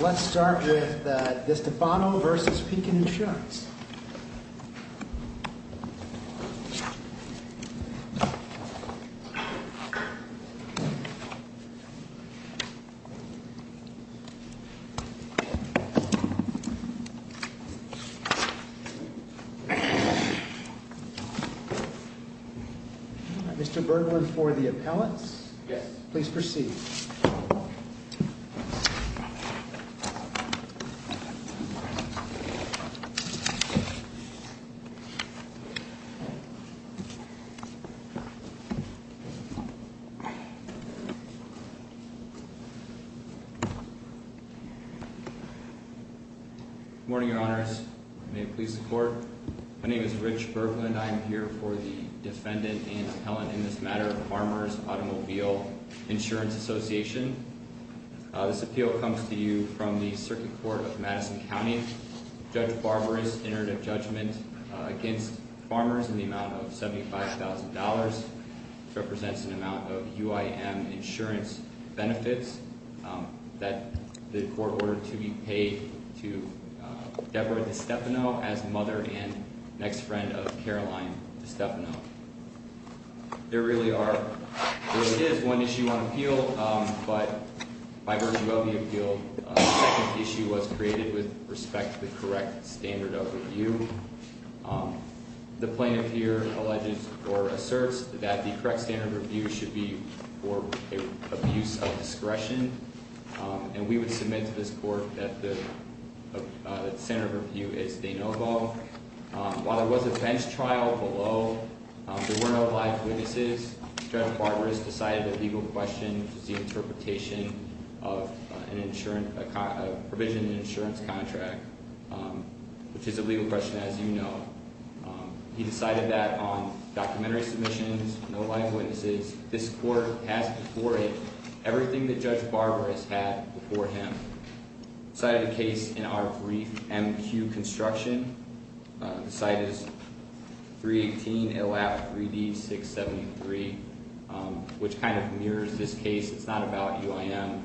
Let's start with DeStefano v. Pekin Insurance. Mr. Bergman for the appellants. Yes. Please proceed. Thank you. Good morning, Your Honors. May it please the Court. My name is Rich Bergman. I am here for the defendant and appellant in this matter, Farmers Automobile Insurance Association. This appeal comes to you from the Circuit Court of Madison County. Judge Barber has entered a judgment against Farmers in the amount of $75,000, which represents an amount of UIM insurance benefits that the Court ordered to be paid to Deborah DeStefano as mother and next friend of Caroline DeStefano. There really is one issue on appeal, but by virtue of the appeal, a second issue was created with respect to the correct standard of review. The plaintiff here alleges or asserts that the correct standard of review should be for abuse of discretion, and we would submit to this Court that the standard of review is de novo. While there was a bench trial below, there were no live witnesses. Judge Barber has decided a legal question, which is the interpretation of a provision in an insurance contract, which is a legal question, as you know. He decided that on documentary submissions, no live witnesses. This Court has before it everything that Judge Barber has had before him. The site of the case in our brief MQ construction, the site is 318 LF 3D 673, which kind of mirrors this case. It's not about UIM,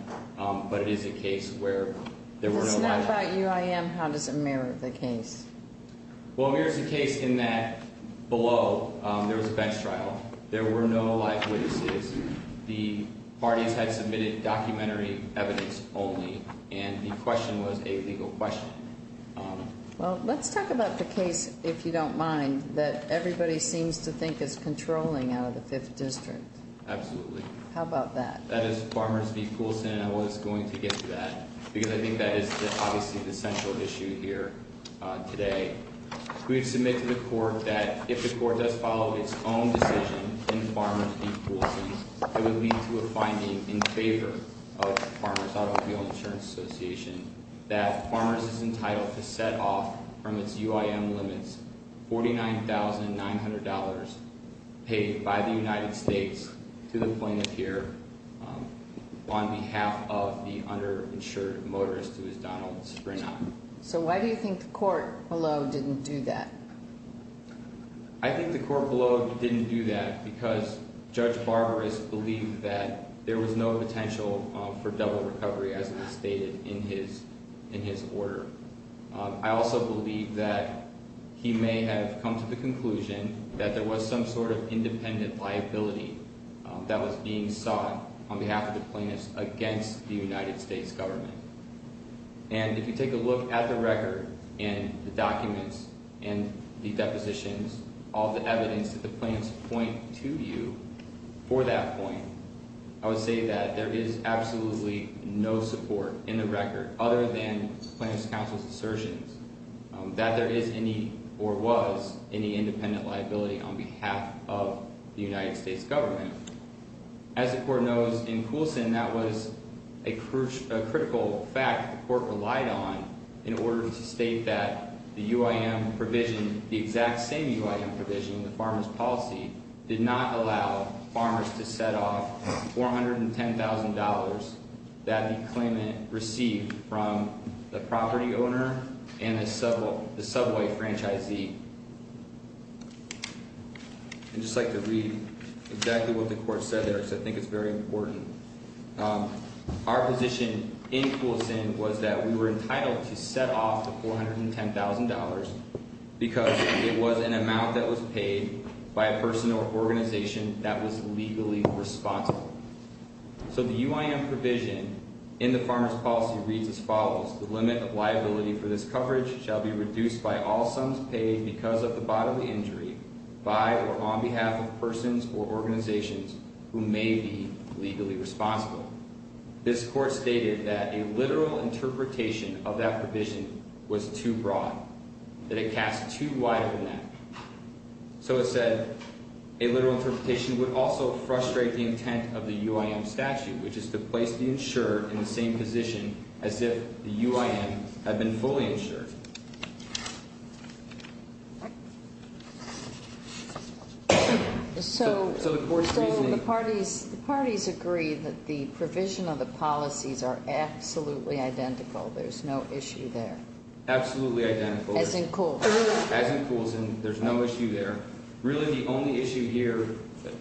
but it is a case where there were no live witnesses. If it's not about UIM, how does it mirror the case? Well, it mirrors the case in that below, there was a bench trial. There were no live witnesses. The parties had submitted documentary evidence only, and the question was a legal question. Well, let's talk about the case, if you don't mind, that everybody seems to think is controlling out of the Fifth District. Absolutely. How about that? That is Farmers v. Poulsen, and I was going to get to that, because I think that is obviously the central issue here today. We have submitted to the Court that if the Court does follow its own decision in Farmers v. Poulsen, it would lead to a finding in favor of Farmers Automobile Insurance Association, that Farmers is entitled to set off from its UIM limits $49,900 paid by the United States to the plaintiff here, on behalf of the underinsured motorist who is Donald Springer. So why do you think the Court below didn't do that? I think the Court below didn't do that because Judge Barbaras believed that there was no potential for double recovery, as was stated in his order. I also believe that he may have come to the conclusion that there was some sort of independent liability that was being sought on behalf of the plaintiffs against the United States government. And if you take a look at the record and the documents and the depositions, all the evidence that the plaintiffs point to you for that point, I would say that there is absolutely no support in the record other than the Plaintiffs' Counsel's assertions that there is any or was any independent liability on behalf of the United States government. As the Court knows in Coulson, that was a critical fact the Court relied on in order to state that the UIM provision, the exact same UIM provision in the Farmer's Policy, did not allow farmers to set off $410,000 that the claimant received from the property owner and the subway franchisee. I'd just like to read exactly what the Court said there because I think it's very important. Our position in Coulson was that we were entitled to set off the $410,000 because it was an amount that was paid by a person or organization that was legally responsible. So the UIM provision in the Farmer's Policy reads as follows, the limit of liability for this coverage shall be reduced by all sums paid because of the bodily injury by or on behalf of persons or organizations who may be legally responsible. This Court stated that a literal interpretation of that provision was too broad, that it cast too wide a net. So it said, a literal interpretation would also frustrate the intent of the UIM statute, which is to place the insurer in the same position as if the UIM had been fully insured. So the parties agree that the provision of the policies are absolutely identical. There's no issue there. Absolutely identical. As in Coulson. As in Coulson. There's no issue there. Really the only issue here,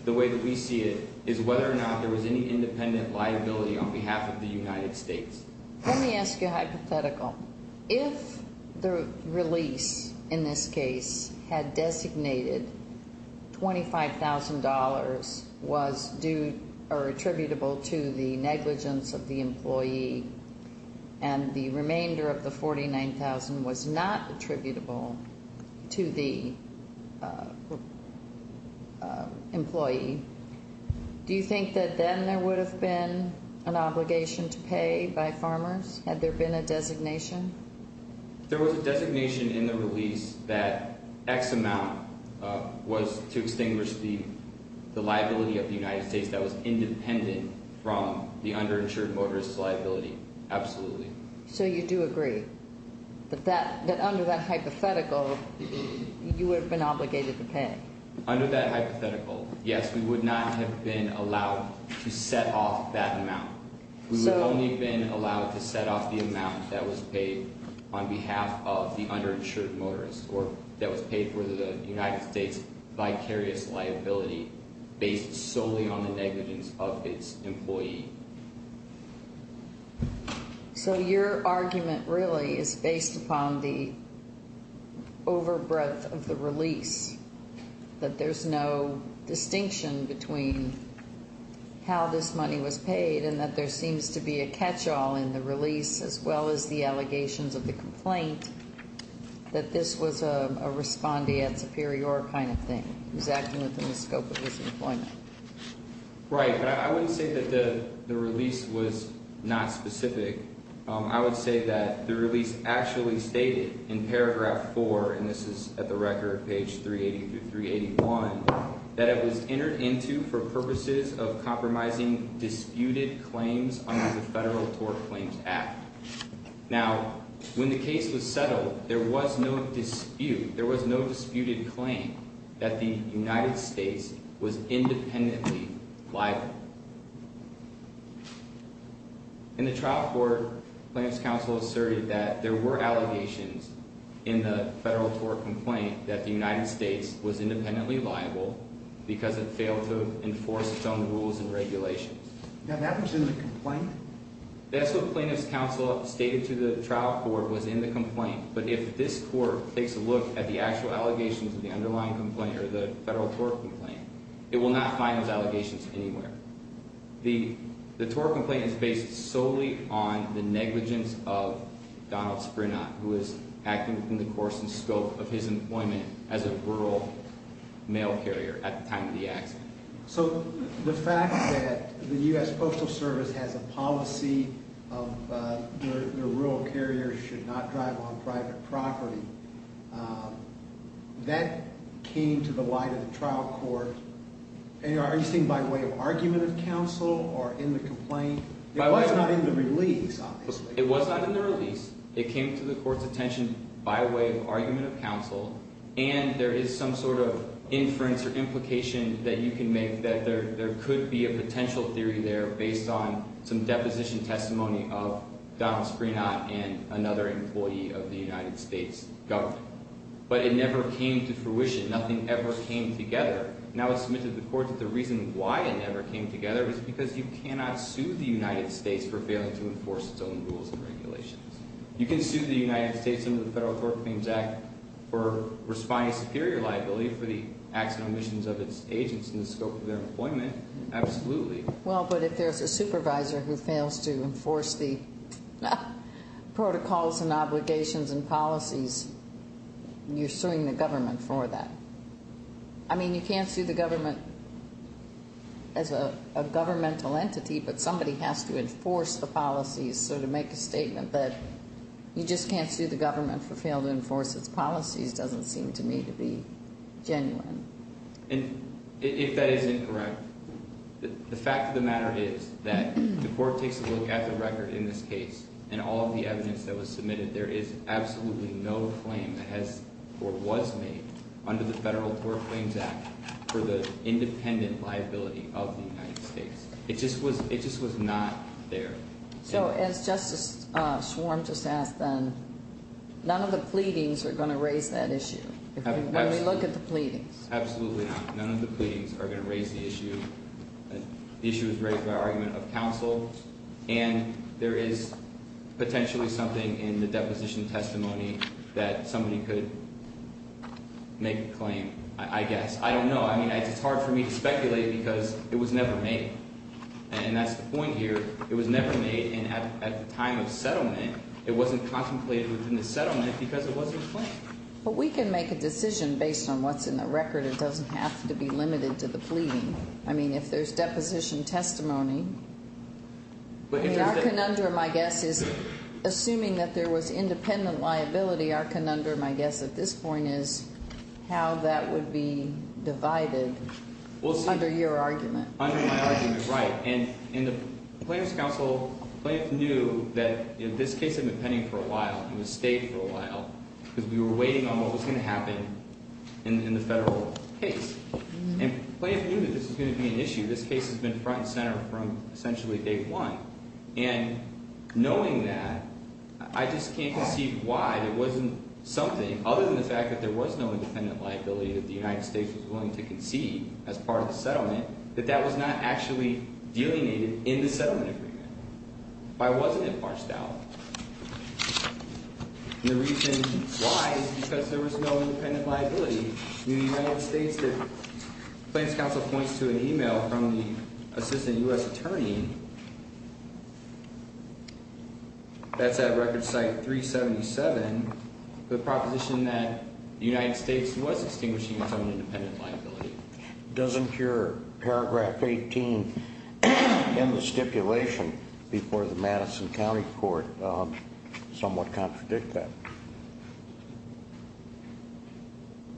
the way that we see it, is whether or not there was any independent liability on behalf of the United States. Let me ask you a hypothetical. If the release in this case had designated $25,000 was attributable to the negligence of the employee and the remainder of the $49,000 was not attributable to the employee, do you think that then there would have been an obligation to pay by farmers? Had there been a designation? There was a designation in the release that X amount was to extinguish the liability of the United States that was independent from the underinsured motorist's liability. Absolutely. So you do agree that under that hypothetical you would have been obligated to pay? Under that hypothetical, yes, we would not have been allowed to set off that amount. We would only have been allowed to set off the amount that was paid on behalf of the underinsured motorist or that was paid for the United States vicarious liability based solely on the negligence of its employee. So your argument really is based upon the overbreadth of the release, that there's no distinction between how this money was paid and that there seems to be a catch-all in the release as well as the allegations of the complaint that this was a respondeat superior kind of thing. It was acting within the scope of his employment. Right, but I wouldn't say that the release was not specific. I would say that the release actually stated in paragraph 4, and this is at the record, page 380 through 381, that it was entered into for purposes of compromising disputed claims under the Federal Tort Claims Act. Now, when the case was settled, there was no dispute. There was no disputed claim that the United States was independently liable. In the trial court, plaintiff's counsel asserted that there were allegations in the Federal Tort Complaint that the United States was independently liable because it failed to enforce its own rules and regulations. Now that was in the complaint? That's what plaintiff's counsel stated to the trial court was in the complaint, but if this court takes a look at the actual allegations of the underlying complaint or the Federal Tort Complaint, it will not find those allegations anywhere. The Tort Complaint is based solely on the negligence of Donald Sprenat, who is acting within the course and scope of his employment as a rural mail carrier at the time of the accident. So the fact that the U.S. Postal Service has a policy of rural carriers should not drive on private property, that came to the light of the trial court. Are you saying by way of argument of counsel or in the complaint? It was not in the release, obviously. It was not in the release. It came to the court's attention by way of argument of counsel, and there is some sort of inference or implication that you can make that there could be a potential theory there based on some deposition testimony of Donald Sprenat and another employee of the United States government. But it never came to fruition. Nothing ever came together. Now it's submitted to the court that the reason why it never came together is because you cannot sue the United States for failing to enforce its own rules and regulations. You can sue the United States under the Federal Authorities Act for responding to superior liability for the acts and omissions of its agents in the scope of their employment, absolutely. Well, but if there's a supervisor who fails to enforce the protocols and obligations and policies, you're suing the government for that. I mean, you can't sue the government as a governmental entity, but somebody has to enforce the policies. So to make a statement that you just can't sue the government for failing to enforce its policies doesn't seem to me to be genuine. And if that is incorrect, the fact of the matter is that the court takes a look at the record in this case and all of the evidence that was submitted. There is absolutely no claim that has or was made under the Federal Court Claims Act for the independent liability of the United States. It just was not there. So as Justice Schwarm just asked then, none of the pleadings are going to raise that issue, when we look at the pleadings. Absolutely not. None of the pleadings are going to raise the issue. The issue is raised by argument of counsel, and there is potentially something in the deposition testimony that somebody could make a claim, I guess. I don't know. I mean, it's hard for me to speculate because it was never made. And that's the point here. It was never made, and at the time of settlement, it wasn't contemplated within the settlement because it wasn't claimed. But we can make a decision based on what's in the record. It doesn't have to be limited to the pleading. I mean, if there's deposition testimony, I mean, our conundrum, I guess, is assuming that there was independent liability, our conundrum, I guess, at this point is how that would be divided under your argument. Under my argument, right. And in the plaintiff's counsel, the plaintiff knew that this case had been pending for a while. It had stayed for a while because we were waiting on what was going to happen in the federal case. And the plaintiff knew that this was going to be an issue. This case has been front and center from essentially day one. And knowing that, I just can't conceive why it wasn't something, other than the fact that there was no independent liability that the United States was willing to concede as part of the settlement, that that was not actually delineated in the settlement agreement. Why wasn't it parsed out? And the reason why is because there was no independent liability. Plaintiff's counsel points to an email from the assistant U.S. attorney. That's at record site 377. The proposition that the United States was extinguishing its own independent liability. Doesn't your paragraph 18 in the stipulation before the Madison County court somewhat contradict that?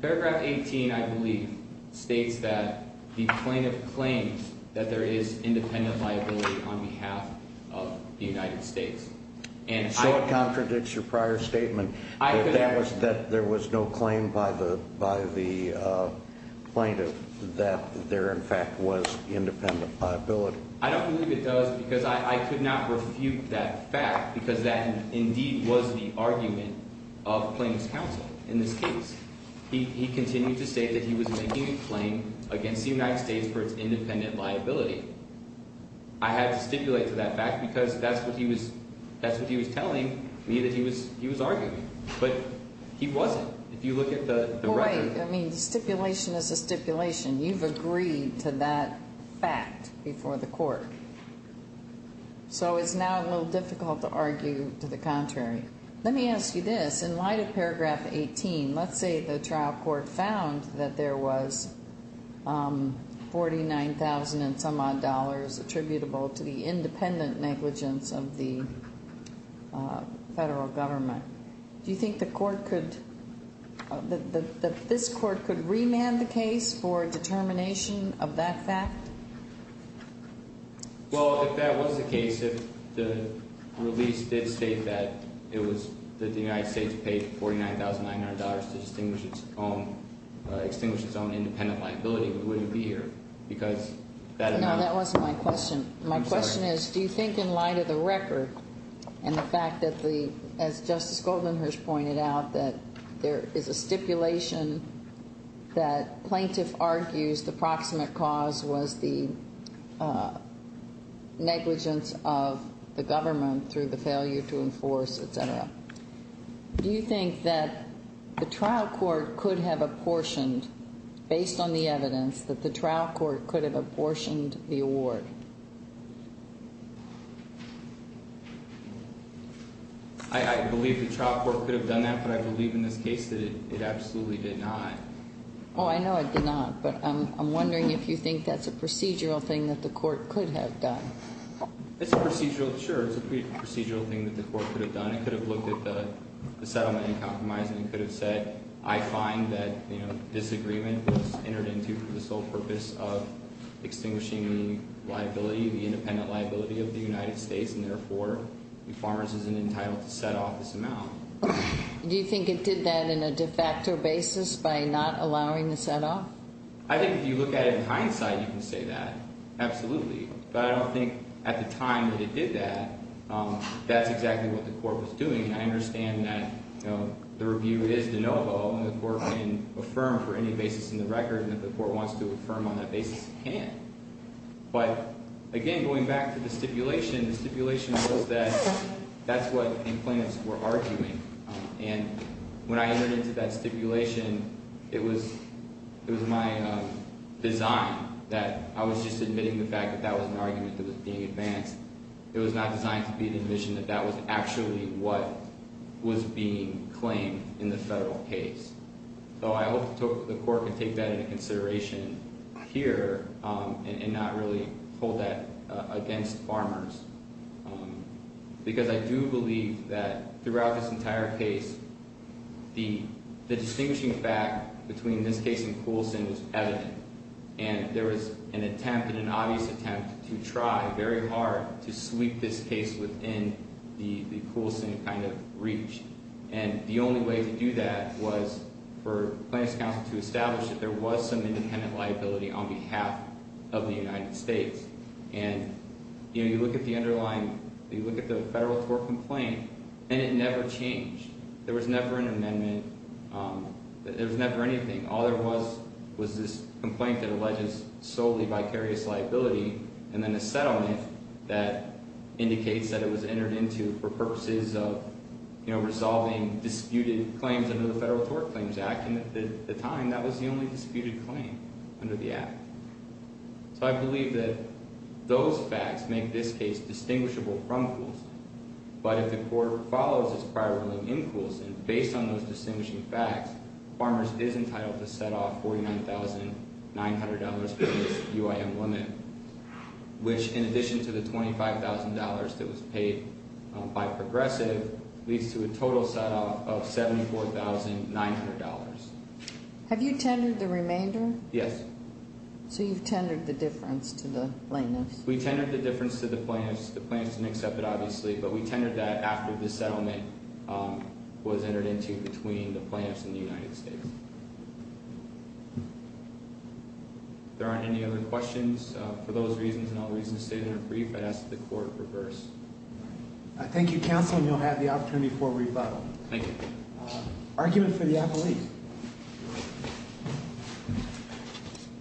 Paragraph 18, I believe, states that the plaintiff claims that there is independent liability on behalf of the United States. So it contradicts your prior statement that there was no claim by the plaintiff that there, in fact, was independent liability. I don't believe it does because I could not refute that fact because that indeed was the argument of plaintiff's counsel in this case. He continued to state that he was making a claim against the United States for its independent liability. I had to stipulate to that fact because that's what he was telling me that he was arguing. But he wasn't. I mean, stipulation is a stipulation. You've agreed to that fact before the court. So it's now a little difficult to argue to the contrary. Let me ask you this. In light of paragraph 18, let's say the trial court found that there was 49,000 and some odd dollars attributable to the independent negligence of the federal government. Do you think the court could – that this court could remand the case for determination of that fact? Well, if that was the case, if the release did state that it was – that the United States paid $49,900 to distinguish its own – extinguish its own independent liability, we wouldn't be here because that amount – No, that wasn't my question. I'm sorry. My question is, do you think in light of the record and the fact that the – as Justice Goldenherz pointed out, that there is a stipulation that plaintiff argues the proximate cause was the negligence of the government through the failure to enforce, et cetera. Do you think that the trial court could have apportioned, based on the evidence, that the trial court could have apportioned the award? I believe the trial court could have done that, but I believe in this case that it absolutely did not. Oh, I know it did not, but I'm wondering if you think that's a procedural thing that the court could have done. It's a procedural – sure, it's a procedural thing that the court could have done. It could have looked at the settlement and compromise, and it could have said, I find that this agreement was entered into for the sole purpose of extinguishing the liability, the independent liability of the United States, and therefore the farmers isn't entitled to set off this amount. Do you think it did that in a de facto basis by not allowing the setoff? I think if you look at it in hindsight, you can say that, absolutely. But I don't think at the time that it did that, that's exactly what the court was doing. I understand that the review is de novo, and the court can affirm for any basis in the record, and if the court wants to affirm on that basis, it can. But, again, going back to the stipulation, the stipulation was that that's what the plaintiffs were arguing. And when I entered into that stipulation, it was my design that I was just admitting the fact that that was an argument that was being advanced. It was not designed to be an admission that that was actually what was being claimed in the federal case. So I hope the court can take that into consideration here and not really hold that against farmers. Because I do believe that throughout this entire case, the distinguishing fact between this case and Coulson was evident. And there was an attempt and an obvious attempt to try very hard to sweep this case within the Coulson kind of reach. And the only way to do that was for Plaintiffs' Counsel to establish that there was some independent liability on behalf of the United States. And, you know, you look at the underlying, you look at the federal tort complaint, and it never changed. There was never an amendment. There was never anything. All there was was this complaint that alleges solely vicarious liability and then a settlement that indicates that it was entered into for purposes of, you know, resolving disputed claims under the Federal Tort Claims Act. And at the time, that was the only disputed claim under the Act. So I believe that those facts make this case distinguishable from Coulson. But if the court follows its prior ruling in Coulson, based on those distinguishing facts, farmers is entitled to set off $49,900 for this UIM woman, which, in addition to the $25,000 that was paid by Progressive, leads to a total setoff of $74,900. Have you tendered the remainder? Yes. So you've tendered the difference to the plaintiffs? We tendered the difference to the plaintiffs. The plaintiffs didn't accept it, obviously, but we tendered that after the settlement was entered into between the plaintiffs and the United States. If there aren't any other questions, for those reasons and all reasons stated in the brief, I'd ask that the court reverse. Thank you, Counsel, and you'll have the opportunity for a rebuttal. Thank you. Argument for the appellees.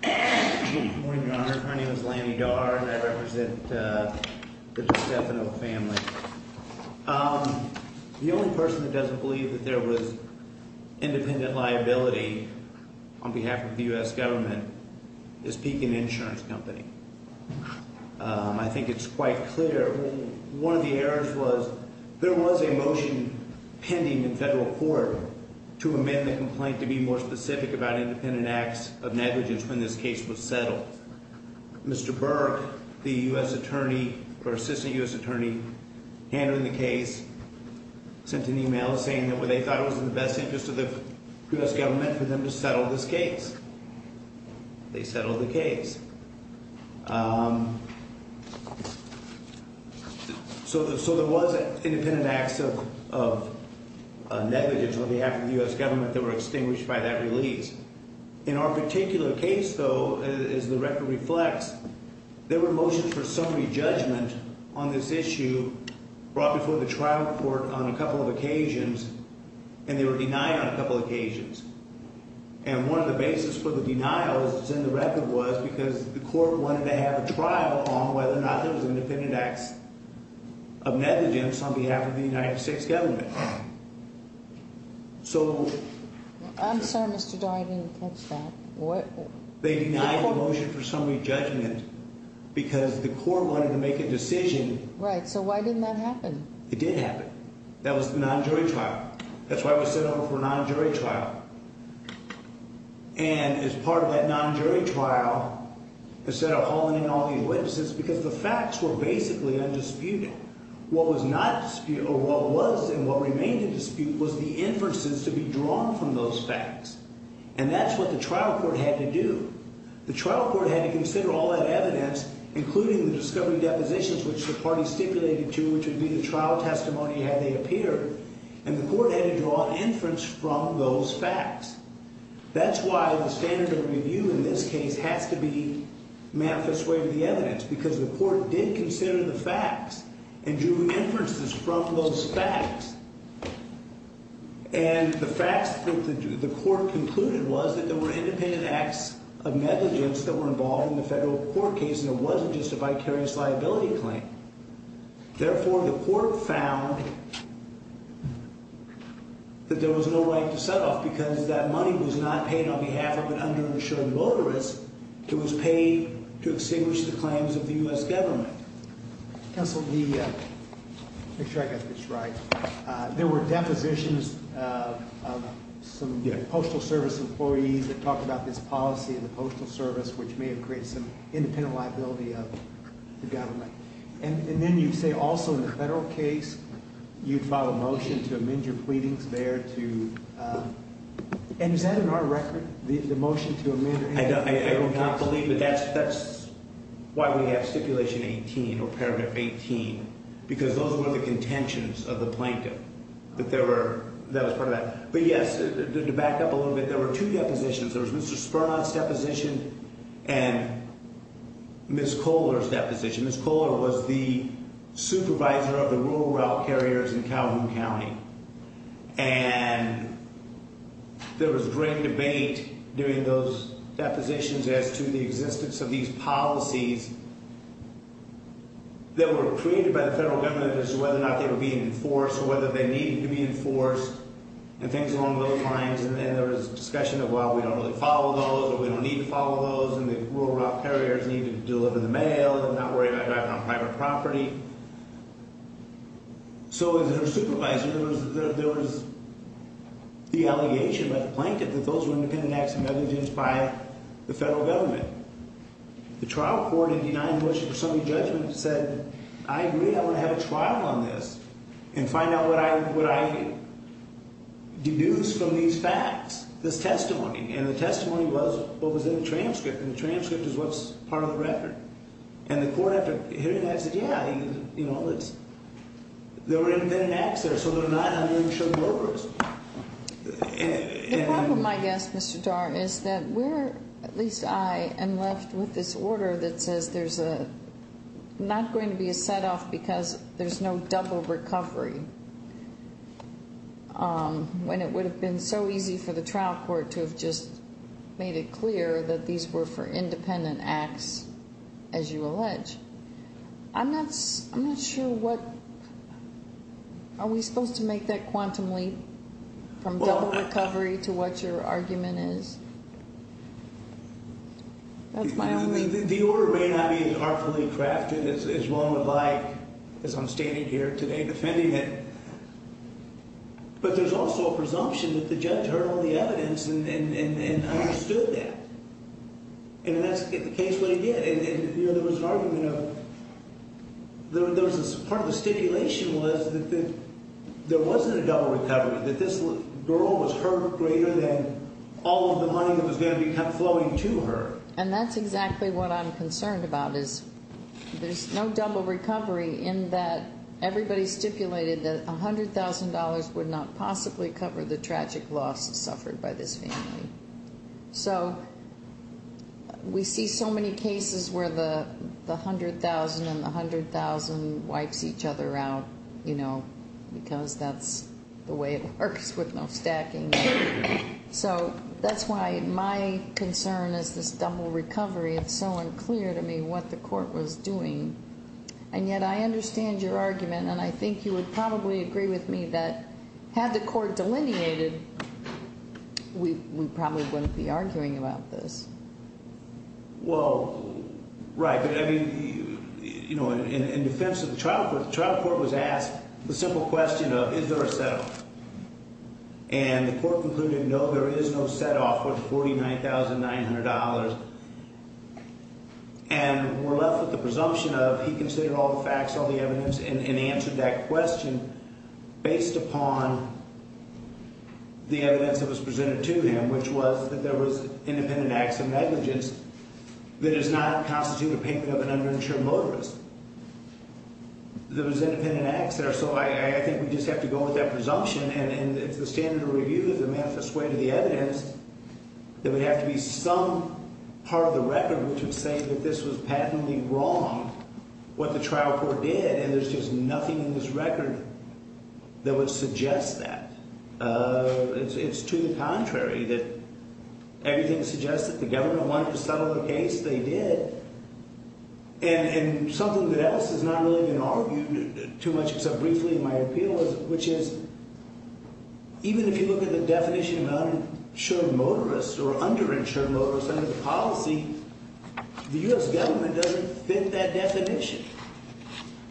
Good morning, Your Honor. My name is Lanny Darr, and I represent the DiStefano family. The only person that doesn't believe that there was independent liability on behalf of the U.S. government is Pekin Insurance Company. I think it's quite clear. One of the errors was there was a motion pending in federal court to amend the complaint to be more specific about independent acts of negligence when this case was settled. Mr. Burke, the U.S. attorney, or assistant U.S. attorney handling the case, sent an email saying that they thought it was in the best interest of the U.S. government for them to settle this case. They settled the case. So there was independent acts of negligence on behalf of the U.S. government that were extinguished by that release. In our particular case, though, as the record reflects, there were motions for summary judgment on this issue brought before the trial court on a couple of occasions, and they were denied on a couple of occasions. And one of the basis for the denials that's in the record was because the court wanted to have a trial on whether or not there was independent acts of negligence on behalf of the United States government. I'm sorry, Mr. Darr, I didn't catch that. They denied the motion for summary judgment because the court wanted to make a decision. Right, so why didn't that happen? It did happen. That was the non-jury trial. That's why it was sent over for a non-jury trial. And as part of that non-jury trial, instead of halting all these witnesses, because the facts were basically undisputed, what was not disputed or what was and what remained in dispute was the inferences to be drawn from those facts. And that's what the trial court had to do. The trial court had to consider all that evidence, including the discovery depositions, which the party stipulated to, which would be the trial testimony had they appeared. And the court had to draw inference from those facts. That's why the standard of review in this case has to be manifest way of the evidence, because the court did consider the facts and drew inferences from those facts. And the facts that the court concluded was that there were independent acts of negligence that were involved in the federal court case, and it wasn't just a vicarious liability claim. Therefore, the court found that there was no right to set off because that money was not paid on behalf of an underinsured motorist. It was paid to extinguish the claims of the U.S. government. Counsel, make sure I got this right. There were depositions of some Postal Service employees that talked about this policy in the Postal Service, which may have created some independent liability of the government. And then you say also in the federal case, you'd file a motion to amend your pleadings there to – and is that in our record, the motion to amend? I would not believe it. That's why we have stipulation 18 or paragraph 18, because those were the contentions of the plaintiff that there were – that was part of that. But yes, to back up a little bit, there were two depositions. There was Mr. Spernon's deposition and Ms. Kohler's deposition. Ms. Kohler was the supervisor of the rural route carriers in Calhoun County. And there was great debate during those depositions as to the existence of these policies that were created by the federal government as to whether or not they were being enforced or whether they needed to be enforced and things along those lines. And there was discussion of, well, we don't really follow those or we don't need to follow those, and the rural route carriers need to deliver the mail and not worry about driving on private property. So as their supervisor, there was the allegation by the plaintiff that those were independent acts of negligence by the federal government. The trial court had denied the motion for summary judgment and said, I agree, I want to have a trial on this and find out what I deduce from these facts, this testimony. And the testimony was what was in the transcript, and the transcript is what's part of the record. And the court, after hearing that, said, yeah, there were independent acts there, so they're not uninsured workers. The problem, I guess, Mr. Dar, is that we're, at least I, am left with this order that says there's not going to be a set off because there's no double recovery. When it would have been so easy for the trial court to have just made it clear that these were for independent acts, as you allege. I'm not sure what, are we supposed to make that quantum leap from double recovery to what your argument is? That's my only. The order may not be as artfully crafted as one would like, as I'm standing here today defending it. But there's also a presumption that the judge heard all the evidence and understood that. And that's the case what he did. And there was an argument of, part of the stipulation was that there wasn't a double recovery. That this girl was hurt greater than all of the money that was going to be flowing to her. And that's exactly what I'm concerned about, is there's no double recovery in that everybody stipulated that $100,000 would not possibly cover the tragic loss suffered by this family. So, we see so many cases where the $100,000 and the $100,000 wipes each other out, you know, because that's the way it works with no stacking. So, that's why my concern is this double recovery. It's so unclear to me what the court was doing. And yet, I understand your argument, and I think you would probably agree with me that had the court delineated, we probably wouldn't be arguing about this. Well, right, but I mean, you know, in defense of the trial court, the trial court was asked the simple question of, is there a set off? And the court concluded, no, there is no set off with $49,900. And we're left with the presumption of he considered all the facts, all the evidence, and answered that question based upon the evidence that was presented to him, which was that there was independent acts of negligence that does not constitute a payment of an underinsured motorist. There was independent acts there. So, I think we just have to go with that presumption. And if the standard of review is a manifest way to the evidence, there would have to be some part of the record which would say that this was patently wrong, what the trial court did. And there's just nothing in this record that would suggest that. It's to the contrary that everything suggests that the government wanted to settle the case. They did. And something that else is not really going to argue too much except briefly in my appeal, which is even if you look at the definition of uninsured motorist or underinsured motorist, under the policy, the U.S. government doesn't fit that definition.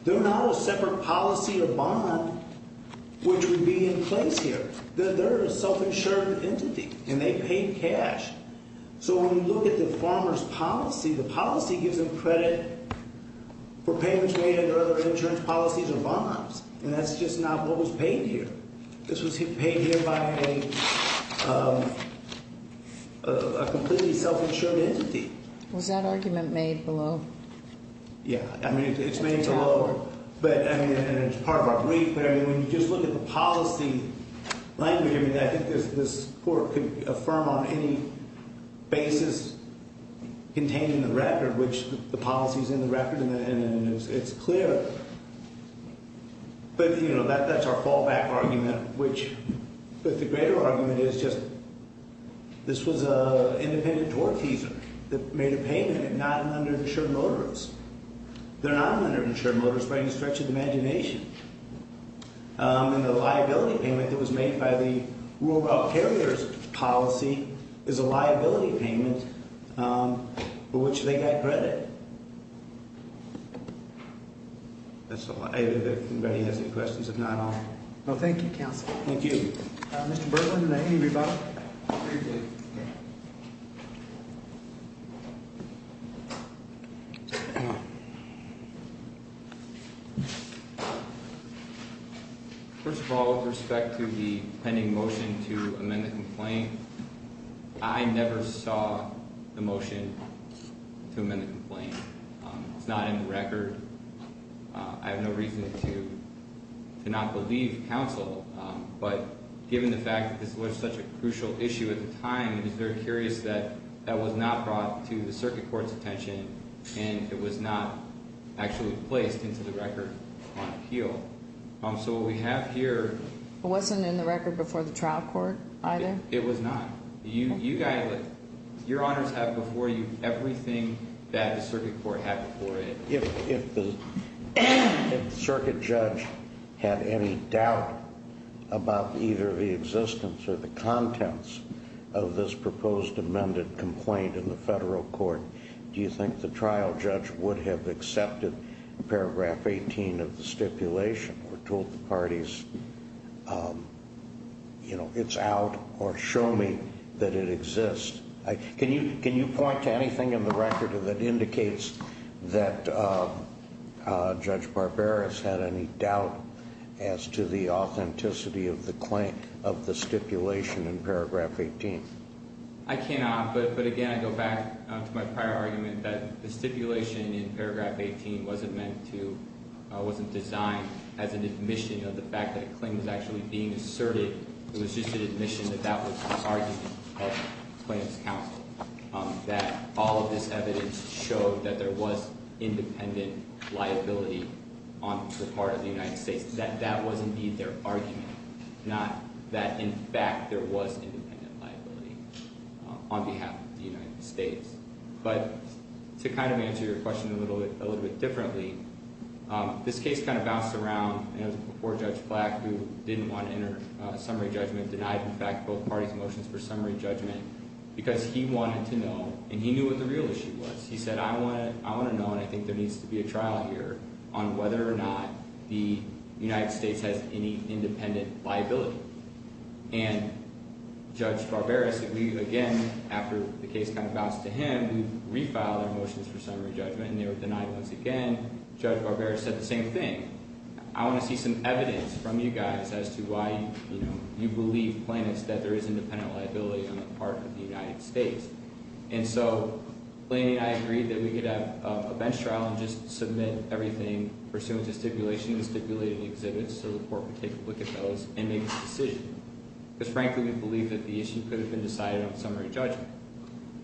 They're not a separate policy or bond which would be in place here. They're a self-insured entity, and they paid cash. So, when you look at the farmer's policy, the policy gives them credit for payments made under other insurance policies or bonds. And that's just not what was paid here. This was paid here by a completely self-insured entity. Was that argument made below? Yeah. I mean, it's made below. And it's part of our brief. But, I mean, when you just look at the policy language, I mean, I think this court could affirm on any basis contained in the record, which the policy is in the record and it's clear. But, you know, that's our fallback argument, which the greater argument is just this was an independent door teaser that made a payment and not an underinsured motorist. They're not an underinsured motorist by any stretch of the imagination. And the liability payment that was made by the rural rail carriers policy is a liability payment for which they got credit. That's all. Anybody has any questions? If not, I'll. No, thank you, counsel. Thank you. Mr. Berland, do I need a rebuttal? Thank you. First of all, with respect to the pending motion to amend the complaint, I never saw the motion to amend the complaint. It's not in the record. I have no reason to not believe counsel. But given the fact that this was such a crucial issue at the time, I'm just very curious that that was not brought to the circuit court's attention and it was not actually placed into the record on appeal. So what we have here. It wasn't in the record before the trial court either? It was not. You guys, your honors have before you everything that the circuit court had before it. If the circuit judge had any doubt about either the existence or the contents of this proposed amended complaint in the federal court, do you think the trial judge would have accepted paragraph 18 of the stipulation or told the parties it's out or show me that it exists? Can you point to anything in the record that indicates that Judge Barbera has had any doubt as to the authenticity of the claim of the stipulation in paragraph 18? I cannot, but again, I go back to my prior argument that the stipulation in paragraph 18 wasn't meant to, wasn't designed as an admission of the fact that a claim was actually being asserted. It was just an admission that that was the argument of claims counsel, that all of this evidence showed that there was independent liability on the part of the United States, that that was indeed their argument, not that in fact there was independent liability on behalf of the United States. But to kind of answer your question a little bit differently, this case kind of bounced around and it was before Judge Platt who didn't want to enter a summary judgment, denied in fact both parties' motions for summary judgment because he wanted to know and he knew what the real issue was. He said, I want to know and I think there needs to be a trial here on whether or not the United States has any independent liability. And Judge Barbera said we, again, after the case kind of bounced to him, we refiled their motions for summary judgment and they were denied once again. Judge Barbera said the same thing. I want to see some evidence from you guys as to why you believe plaintiffs that there is independent liability on the part of the United States. And so Laney and I agreed that we could have a bench trial and just submit everything pursuant to stipulations stipulated in the exhibits so the court would take a look at those and make a decision. Because frankly we believe that the issue could have been decided on summary judgment.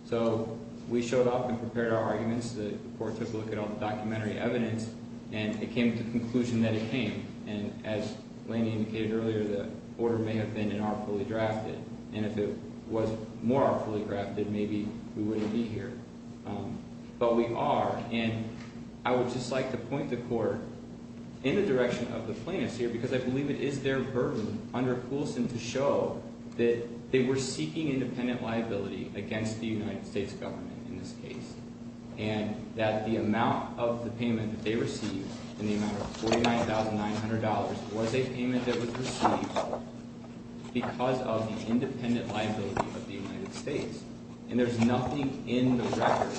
So we showed up and prepared our arguments. The court took a look at all the documentary evidence and it came to the conclusion that it came. And as Laney indicated earlier, the order may have been an artfully drafted. And if it was more artfully drafted, maybe we wouldn't be here. But we are. And I would just like to point the court in the direction of the plaintiffs here because I believe it is their burden under Coulson to show that they were seeking independent liability against the United States government in this case. And that the amount of the payment that they received in the amount of $49,900 was a payment that was received because of the independent liability of the United States. And there's nothing in the record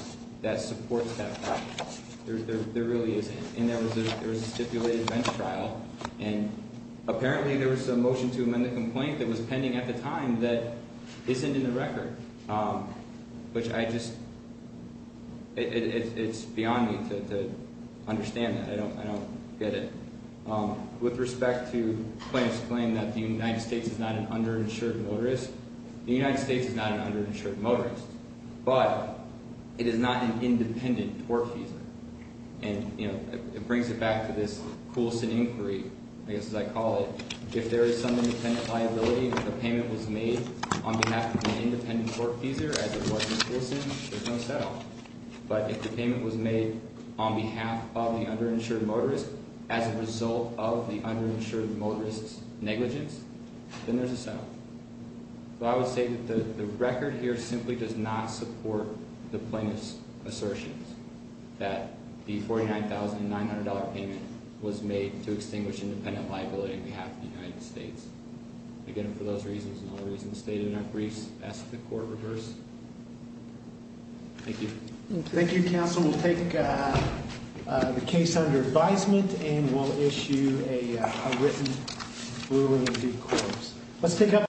that supports that fact. There really isn't. And there was a stipulated bench trial. And apparently there was a motion to amend the complaint that was pending at the time that isn't in the record. Which I just – it's beyond me to understand that. I don't get it. With respect to the plaintiff's claim that the United States is not an underinsured motorist, the United States is not an underinsured motorist. But it is not an independent torque user. And, you know, it brings it back to this Coulson inquiry, I guess as I call it. If there is some independent liability, if the payment was made on behalf of an independent torque user as it was with Coulson, there's no settle. But if the payment was made on behalf of the underinsured motorist as a result of the underinsured motorist's negligence, then there's a settle. So I would say that the record here simply does not support the plaintiff's assertion that the $49,900 payment was made to extinguish independent liability on behalf of the United States. Again, for those reasons and other reasons stated in our briefs, ask that the court reverse. Thank you. Thank you, counsel. We'll take the case under advisement and we'll issue a written ruling to the courts. Let's take a break.